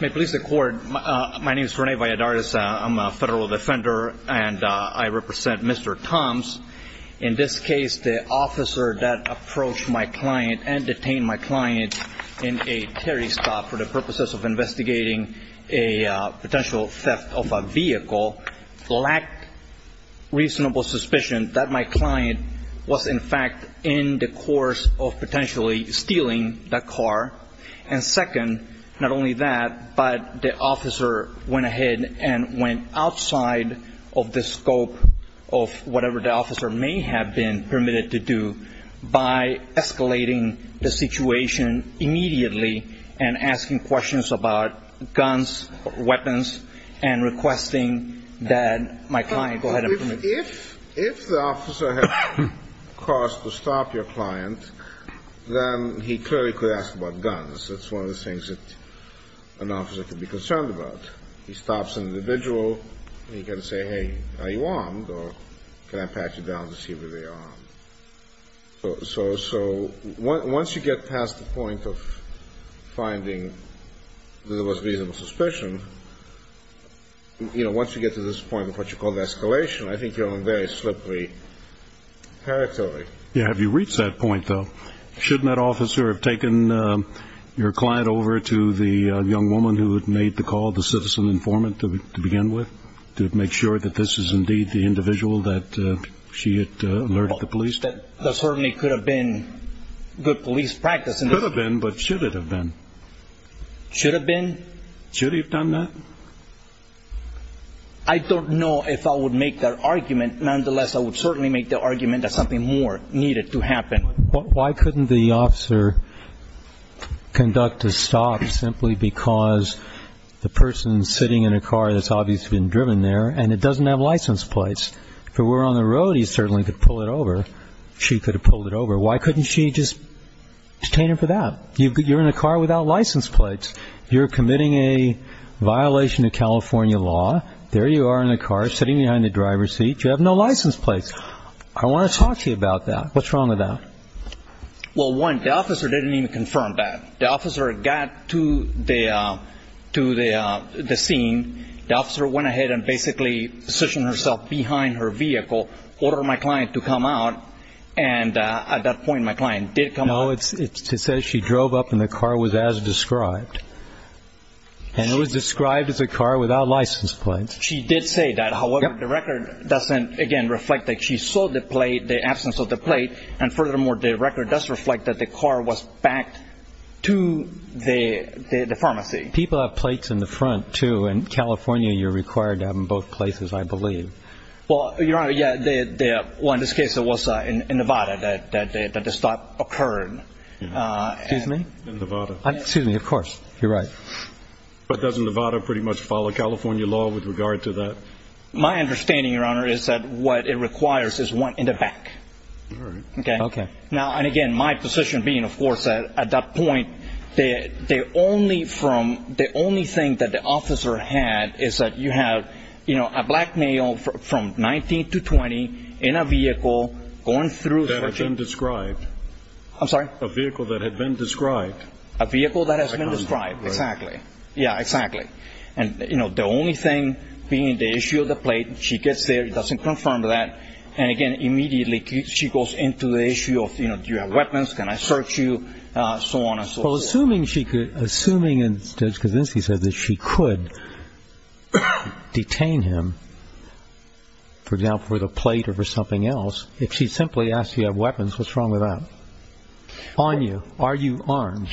May police accord. My name is Rene Valladares. I'm a federal defender and I represent Mr. Toms. In this case, the officer that approached my client and detained my client in a Terry stop for the purposes of investigating a potential theft of a vehicle lacked reasonable suspicion that my client was in fact in the course of potentially stealing that car. And second, not only that, but the officer went ahead and went outside of the scope of whatever the officer may have been permitted to do by escalating the situation immediately and asking questions about guns, weapons, and requesting that my client go ahead and permit him. If the officer had caused to stop your client, then he clearly could ask about guns. That's one of the things that an officer could be concerned about. He stops an individual, he can say, hey, are you armed? Or can I pat you down to see whether you're armed? So once you get past the point of finding there was reasonable suspicion, you know, once you get to this point of what you call escalation, I think you're in a very slippery territory. Yeah, have you reached that point though? Shouldn't that officer have taken your client over to the young woman who had made the call, the citizen informant to begin with, to make sure that this is indeed the individual that she had alerted the police? That certainly could have been good police practice. Could have been, but should it have been? Should have been? Should he have done that? I don't know if I would make that argument. Nonetheless, I would certainly make the argument that something more needed to happen. Why couldn't the officer conduct a stop simply because the person's sitting in a car that's obviously been driven there and it doesn't have license plates? If it were on the road, the police certainly could pull it over. She could have pulled it over. Why couldn't she just detain him for that? You're in a car without license plates. You're committing a violation of California law. There you are in the car, sitting behind the driver's seat. You have no license plates. I want to talk to you about that. What's wrong with that? Well, one, the officer didn't even confirm that. The officer got to the scene. The officer went ahead and basically positioned herself behind her vehicle, ordered my client to come out. And at that point, my client did come out. No, it says she drove up and the car was as described. And it was described as a car without license plates. She did say that. However, the record doesn't, again, reflect that. She saw the plate, the absence of the plate. And furthermore, the record does reflect that the car was backed to the pharmacy. People have plates in the front, too. In California, you're required to have them in both places, I believe. Well, Your Honor, yeah. Well, in this case, it was in Nevada that the stop occurred. Excuse me? In Nevada. Excuse me, of course. You're right. But doesn't Nevada pretty much follow California law with regard to that? My understanding, Your Honor, is that what it requires is one in the back. All right. Okay. Now, and again, my position being, of course, at that point, the only thing that the officer had is that you have, you know, a black male from 19 to 20 in a vehicle, going through searching. That had been described. I'm sorry? A vehicle that had been described. A vehicle that has been described. Exactly. Yeah, exactly. And, you know, the only thing being the issue of the plate, she gets there, it doesn't confirm that. And again, immediately she goes into the issue of, you know, do you have weapons? Can I search you? So on and so forth. Well, assuming she could, assuming Judge Kaczynski said that she could detain him, for example, for the plate or for something else, if she simply asked, do you have weapons, what's wrong with that? On you, are you armed?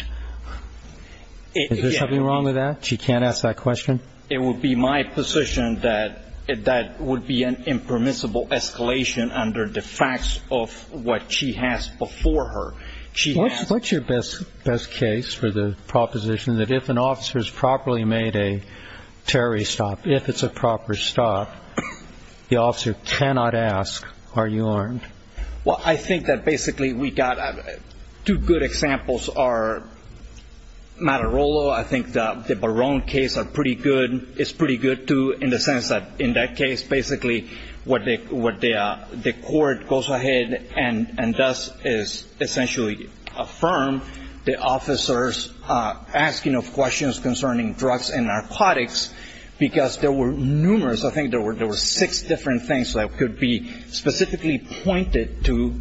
Is there something wrong with that? She can't ask that question? It would be my position that that would be an impermissible escalation under the facts of what she has before her. What's your best case for the proposition that if an officer's properly made a terrorist stop, if it's a proper stop, the officer cannot ask, are you armed? Well, I think that basically we got two good examples are Matarolo. I think the Barone case are pretty good. It's pretty good, too, in the sense that in that case, basically what the court goes ahead and does is essentially affirm the officer's asking of questions concerning drugs and narcotics, because there were numerous, I think there were six different things that could be specifically pointed to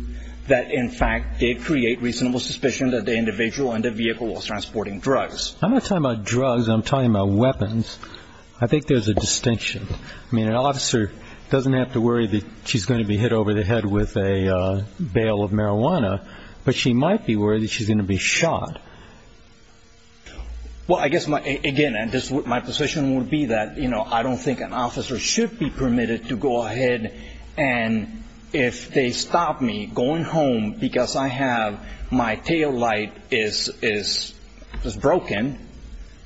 that, in fact, did create reasonable suspicion that the individual in the vehicle was transporting drugs. I'm not talking about drugs. I'm talking about weapons. I think there's a distinction. I mean, an officer doesn't have to worry that she's going to be hit over the head with a bail of marijuana, but she might be worried that she's going to be shot. Well, I guess, again, my position would be that I don't think an officer should be permitted to go ahead and if they stop me going home because I have my taillight is broken,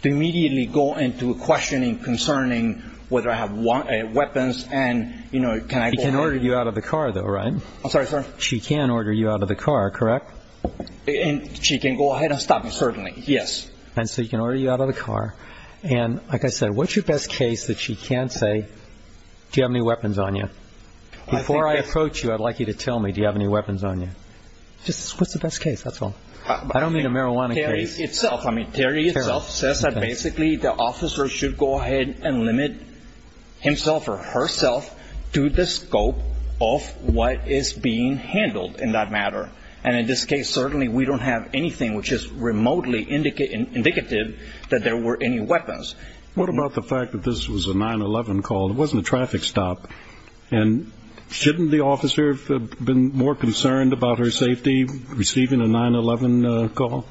to immediately go into a questioning concerning whether I have weapons and, you know, can I go home? She can order you out of the car, though, right? I'm sorry, sir? She can order you out of the car, correct? She can go ahead and stop me, certainly, yes. And so you can order you out of the car. And like I said, what's your best case that she can't say, do you have any weapons on you? Before I approach you, I'd like you to tell me do you have any weapons on you? Just what's the best case, that's all. I don't mean a marijuana case. Terry itself, I mean, Terry itself says that basically the officer should go ahead and limit himself or herself to the scope of what is being handled in that matter. And in this case, certainly, we don't have anything which is remotely indicative that there were any weapons. What about the fact that this was a 9-11 call? It wasn't a traffic stop. And shouldn't the officer have been more concerned about her safety receiving a 9-11 call?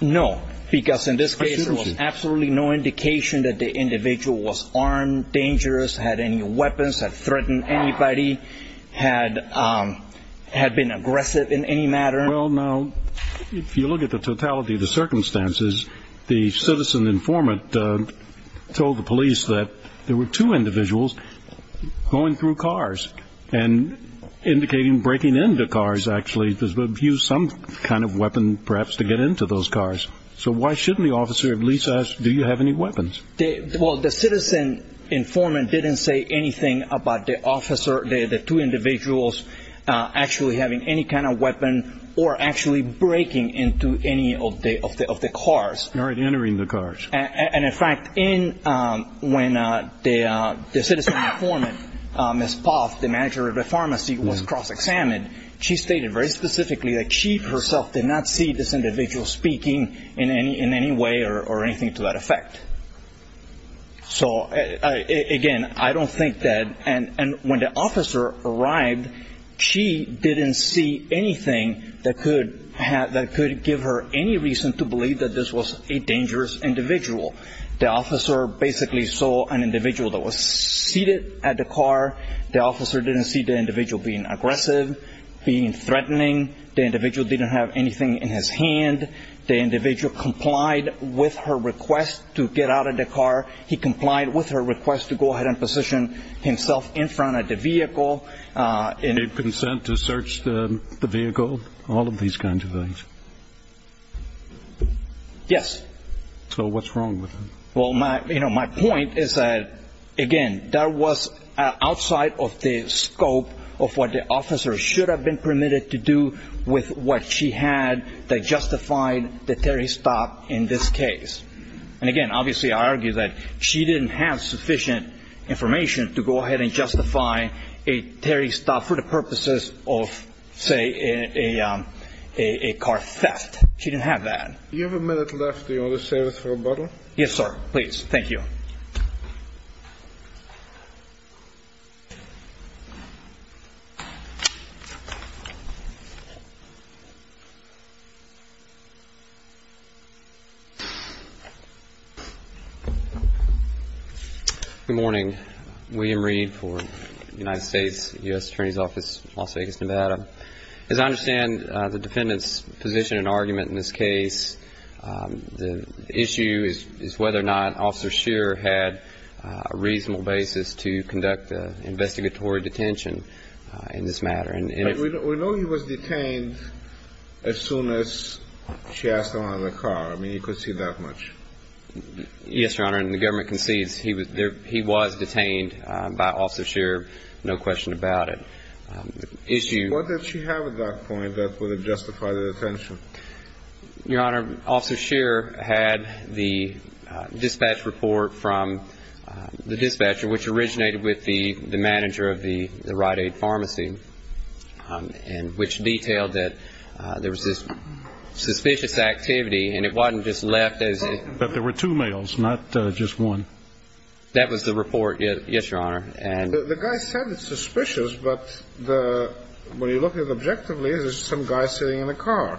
No, because in this case, there was absolutely no indication that the individual was armed, dangerous, had any weapons, had threatened anybody, had been aggressive in any matter. Well, now, if you look at the totality of the circumstances, the citizen informant told the police that there were two individuals going through cars and indicating breaking into cars, actually, because they've used some kind of weapon, perhaps, to get into those cars. So why shouldn't the officer at least ask, do you have any weapons? Well, the citizen informant didn't say anything about the officer, the two individuals, actually having any kind of weapon or actually breaking into any of the cars. Or entering the cars. And in fact, when the citizen informant, Ms. Poff, the manager of the pharmacy, was cross examined, she stated very specifically that she, herself, did not see this individual speaking in any way or anything to that effect. So, again, I don't think that, and when the citizen informant, Ms. Poff, the manager of the pharmacy, did not see anything that could give her any reason to believe that this was a dangerous individual. The officer basically saw an individual that was seated at the car. The officer didn't see the individual being aggressive, being threatening. The individual didn't have anything in his hand. The individual complied with her request to get out of the car. He complied with her request to go ahead and position himself in front of the vehicle. Did he consent to search the vehicle? All of these kinds of things? Yes. So, what's wrong with him? Well, my point is that, again, that was outside of the scope of what the officer should have been permitted to do with what she had that justified the Terry's stop in this case. And, again, obviously, I argue that she didn't have sufficient information to go ahead and do the Terry's stop for the purposes of, say, a car theft. She didn't have that. Do you have a minute left? Do you want to save it for a bottle? Yes, sir. Please. Thank you. Good morning. William Reed for the United States U.S. Attorney's Office, Las Vegas, Nevada. As I understand the defendant's position and argument in this case, the issue is whether or not Officer Scheer had a reasonable basis to conduct an investigatory detention in this matter. But we know he was detained as soon as she asked him out of the car. I mean, he conceded that much. Yes, Your Honor. And the government concedes he was detained by Officer Scheer, no question about it. What did she have at that point that would have justified the detention? Your Honor, Officer Scheer had the dispatch report from the dispatcher, which originated with the manager of the Rite Aid Pharmacy, and which detailed that there was this suspicious activity, and it wasn't just left as a But there were two males, not just one. suspicious, but when you look at it objectively, there's some guy sitting in the car,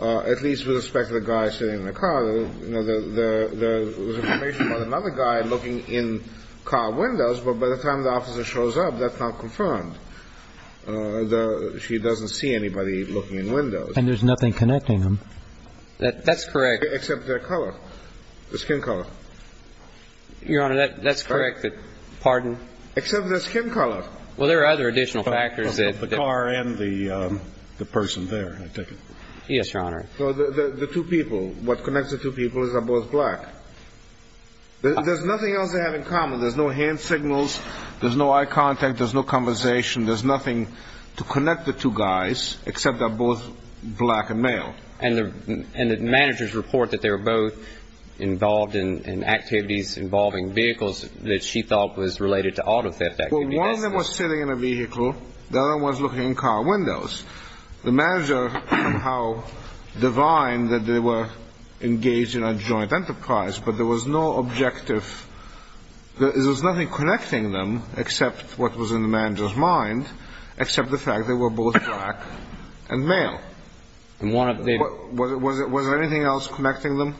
at least with respect to the guy sitting in the car. There was information about another guy looking in car windows, but by the time the officer shows up, that's not confirmed. She doesn't see anybody looking in windows. And there's nothing connecting them. That's correct. Except their color, their skin color. Your Honor, that's correct. Pardon? Except their skin color. Well, there are other additional factors. The car and the person there, I take it. Yes, Your Honor. So the two people, what connects the two people is they're both black. There's nothing else they have in common. There's no hand signals. There's no eye contact. There's no conversation. There's nothing to connect the two guys, except they're both black and male. And the managers report that they were both involved in activities involving vehicles that she thought was related to auto theft. Well, one of them was sitting in a vehicle. The other one was looking in car windows. The manager, how divine that they were engaged in a joint enterprise, but there was no objective. There was nothing connecting them, except what was in the manager's mind, except the fact they were both black and male. Was there anything else connecting them?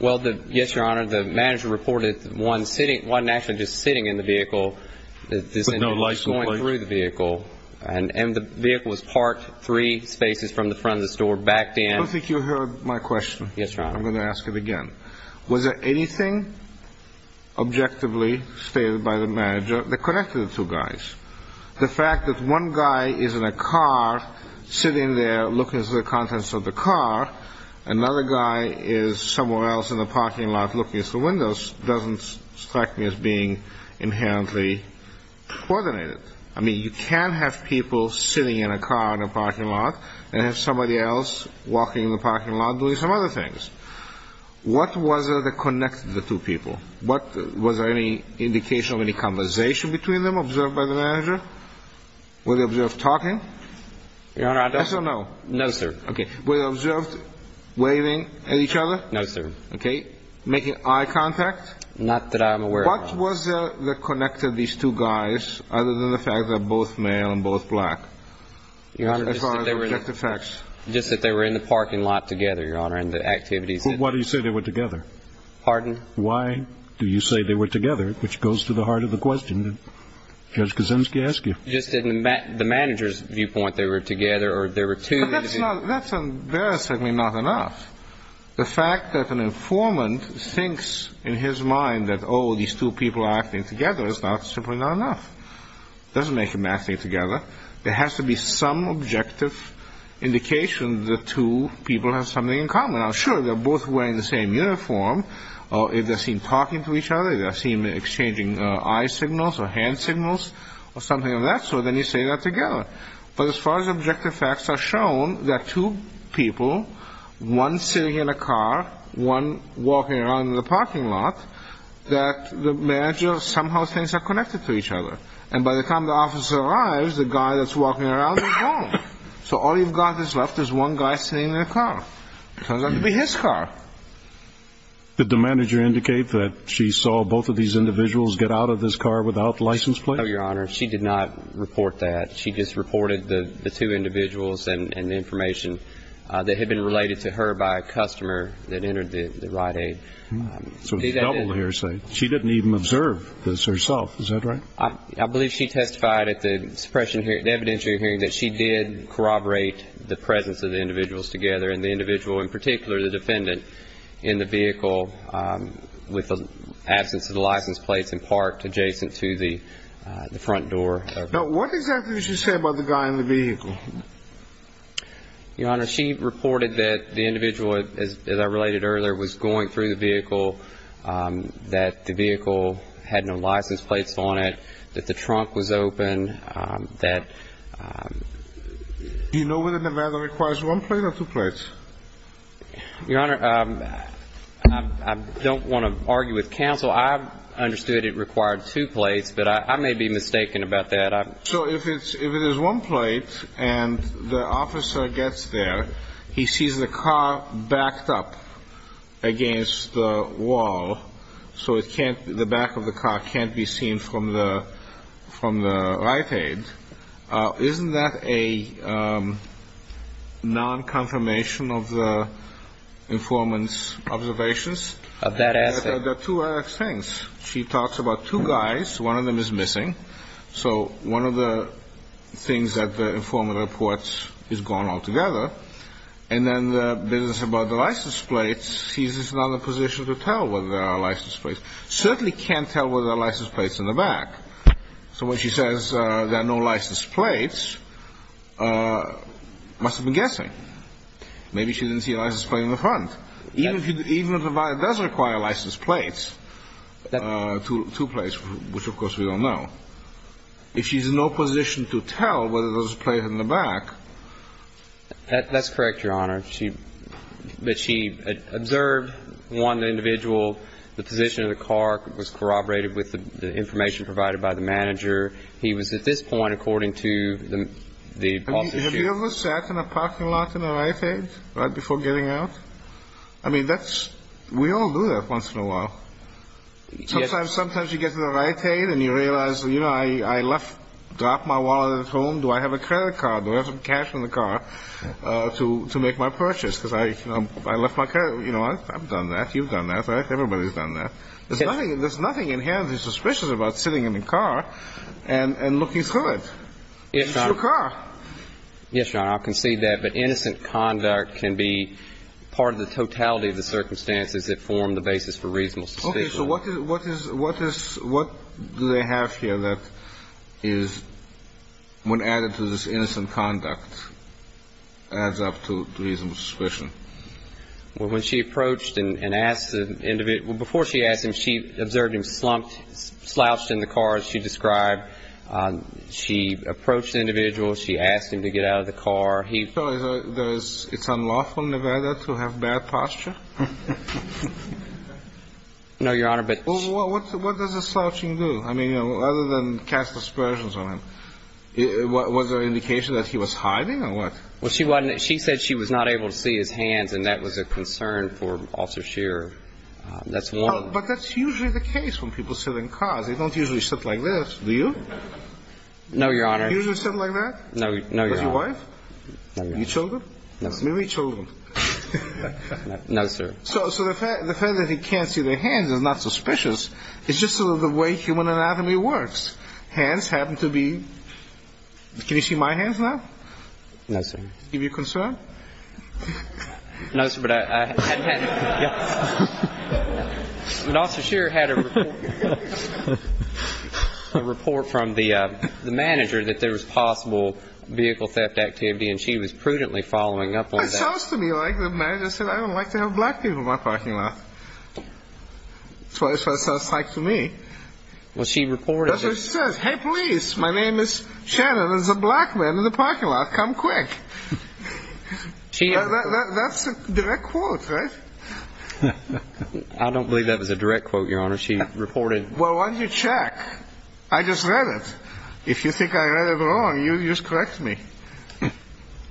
Well, yes, Your Honor. The manager reported one sitting, one actually just sitting in the vehicle. There's no lights going through the vehicle. And the vehicle was parked three spaces from the front of the store, backed in. I don't think you heard my question. Yes, Your Honor. I'm going to ask it again. Was there anything objectively stated by the manager that connected the two guys? The fact that one guy is in a car, sitting there looking through the contents of the car, another guy is somewhere else in the parking lot looking through windows, doesn't strike me as being inherently coordinated. I mean, you can have people sitting in a car in a parking lot and have somebody else walking in the parking lot doing some other things. What was it that connected the two people? Was there any indication of any conversation between them observed by the manager? Were they observed talking? Your Honor, I don't know. Yes or no? No, sir. Okay. Were they observed waving at each other? No, sir. Okay. Making eye contact? Not that I'm aware of, Your Honor. What was it that connected these two guys, other than the fact they're both male and both black? Your Honor, just that they were in the parking lot together, Your Honor, and the activities. Why do you say they were together? Pardon? Why do you say they were together? Which goes to the heart of the question that Judge Kosinski asked you. Just in the manager's viewpoint, they were together, or there were two. But that's not, that's embarrassingly not enough. The fact that an informant thinks in his mind that, oh, these two people are acting together, is simply not enough. It doesn't make them acting together. And I'm sure they're both wearing the same uniform. If they're seen talking to each other, if they're seen exchanging eye signals or hand signals or something of that sort, then you say they're together. But as far as objective facts are shown, there are two people, one sitting in a car, one walking around in the parking lot, that the manager somehow thinks are connected to each other. And by the time the officer arrives, the guy that's walking around is gone. So all you've got is left is one guy sitting in a car. It turns out to be his car. Did the manager indicate that she saw both of these individuals get out of this car without license plate? No, Your Honor. She did not report that. She just reported the two individuals and the information that had been related to her by a customer that entered the ride-in. So it's a double hearsay. She didn't even observe this herself. Is that right? I believe she testified at the evidentiary hearing that she did corroborate the presence of the individuals together, and the individual in particular, the defendant, in the vehicle, with the absence of the license plates in part adjacent to the front door. Now, what exactly did she say about the guy in the vehicle? Your Honor, she reported that the individual, as I related earlier, was going through the vehicle, that the vehicle had no license plates on it, that the trunk was open, that... Do you know whether Nevada requires one plate or two plates? Your Honor, I don't want to argue with counsel. I understood it required two plates, but I may be mistaken about that. So if it is one plate and the officer gets there, he sees the car backed up against the wall, so the back of the car can't be seen from the right-hand. Isn't that a non-confirmation of the informant's observations? Of that asset. There are two other things. She talks about two guys. One of them is missing. So one of the things that the informant reports is gone altogether. And then the business about the license plates, he's in another position to tell whether there are license plates. Certainly can't tell whether there are license plates in the back. So when she says there are no license plates, must have been guessing. Maybe she didn't see a license plate in the front. Even if Nevada does require license plates, two plates, which of course we don't know, if she's in no position to tell whether there's a plate in the back... That's correct, Your Honor. But she observed, one individual, the position of the car, was corroborated with the information provided by the manager. He was, at this point, according to the... Have you ever sat in a parking lot in a riot aid right before getting out? I mean, we all do that once in a while. Sometimes you get in a riot aid and you realize, you know, I dropped my wallet at home. Do I have a credit card? Do I have some cash in the car to make my purchase? Because I left my credit. You know, I've done that. You've done that. Everybody's done that. There's nothing inherently suspicious about sitting in the car and looking through it. It's your car. Yes, Your Honor. I'll concede that. But innocent conduct can be part of the totality of the circumstances that form the basis for reasonable suspicion. Okay. So what do they have here that is, when added to this innocent conduct, adds up to reasonable suspicion? Well, when she approached and asked the individual... Well, before she asked him, she observed him slouched in the car, as she described. She approached the individual. She asked him to get out of the car. So it's unlawful in Nevada to have bad posture? No, Your Honor, but... Well, what does a slouching do? I mean, other than cast aspersions on him, was there an indication that he was hiding or what? Well, she said she was not able to see his hands, and that was a concern for Officer Scheer. But that's usually the case when people sit in cars. They don't usually sit like this, do you? No, Your Honor. You usually sit like that? No, Your Honor. With your wife? No, Your Honor. Your children? No, sir. Maybe children. No, sir. So the fact that he can't see their hands is not suspicious. It's just sort of the way human anatomy works. Hands happen to be... Can you see my hands now? No, sir. Give you concern? No, sir, but I hadn't had... But Officer Scheer had a report from the manager that there was possible vehicle theft activity, and she was prudently following up on that. It sounds to me like the manager said, I don't like to have black people in my parking lot. That's what it sounds like to me. Well, she reported it. She says, hey, police, my name is Shannon. There's a black man in the parking lot. Come quick. That's a direct quote, right? I don't believe that was a direct quote, Your Honor. She reported... Well, why don't you check? I just read it. If you think I read it wrong, you just correct me.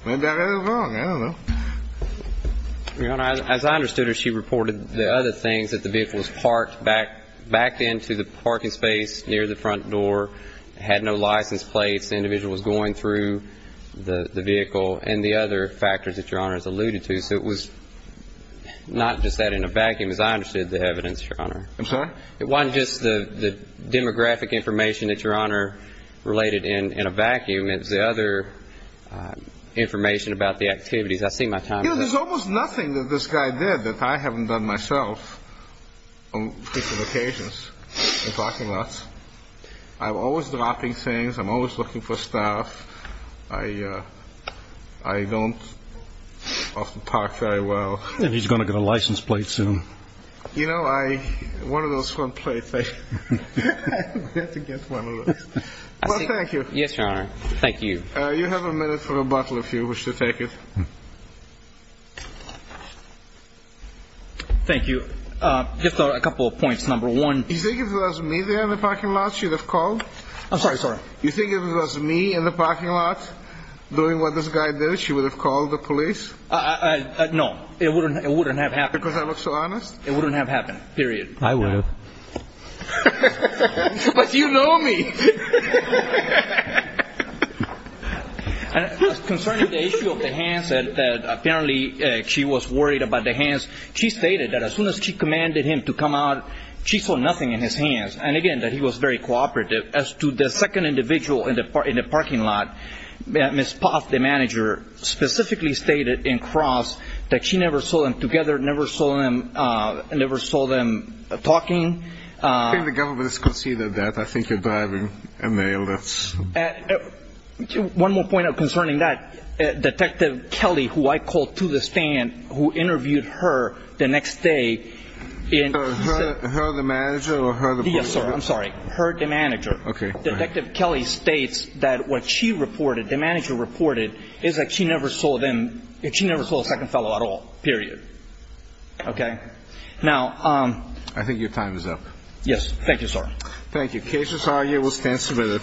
Maybe I read it wrong. I don't know. Your Honor, as I understood her, that the vehicle was parked back into the parking space near the front door, had no license plates, the individual was going through the vehicle, and the other factors that Your Honor has alluded to. So it was not just that in a vacuum, as I understood the evidence, Your Honor. I'm sorry? It wasn't just the demographic information that Your Honor related in a vacuum. It was the other information about the activities. I see my time is up. You know, there's almost nothing that this guy did that I haven't done myself on frequent occasions in parking lots. I'm always dropping things. I'm always looking for stuff. I don't often talk very well. And he's going to get a license plate soon. You know, one of those front plates, I had to get one of those. Well, thank you. Yes, Your Honor. Thank you. You have a minute for a bottle if you wish to take it. Thank you. Just a couple of points. Number one. You think if it was me there in the parking lot, she would have called? I'm sorry. You think if it was me in the parking lot doing what this guy did, she would have called the police? No, it wouldn't have happened. Because I look so honest? It wouldn't have happened, period. I would have. But you know me. Concerning the issue of the hands, apparently she was worried about the hands. She stated that as soon as she commanded him to come out, she saw nothing in his hands. And, again, that he was very cooperative. As to the second individual in the parking lot, Ms. Poth, the manager, specifically stated in cross that she never saw them together, never saw them talking. I think the government has conceded that. I think you're driving a nail. One more point concerning that. Detective Kelly, who I called to the stand, who interviewed her the next day. Her, the manager, or her, the police? Yes, sir. I'm sorry. Her, the manager. Okay. Detective Kelly states that what she reported, the manager reported, is that she never saw them, she never saw the second fellow at all, period. Okay. Now. I think your time is up. Yes. Thank you, sir. Thank you. Case is argued. We'll stand submitted.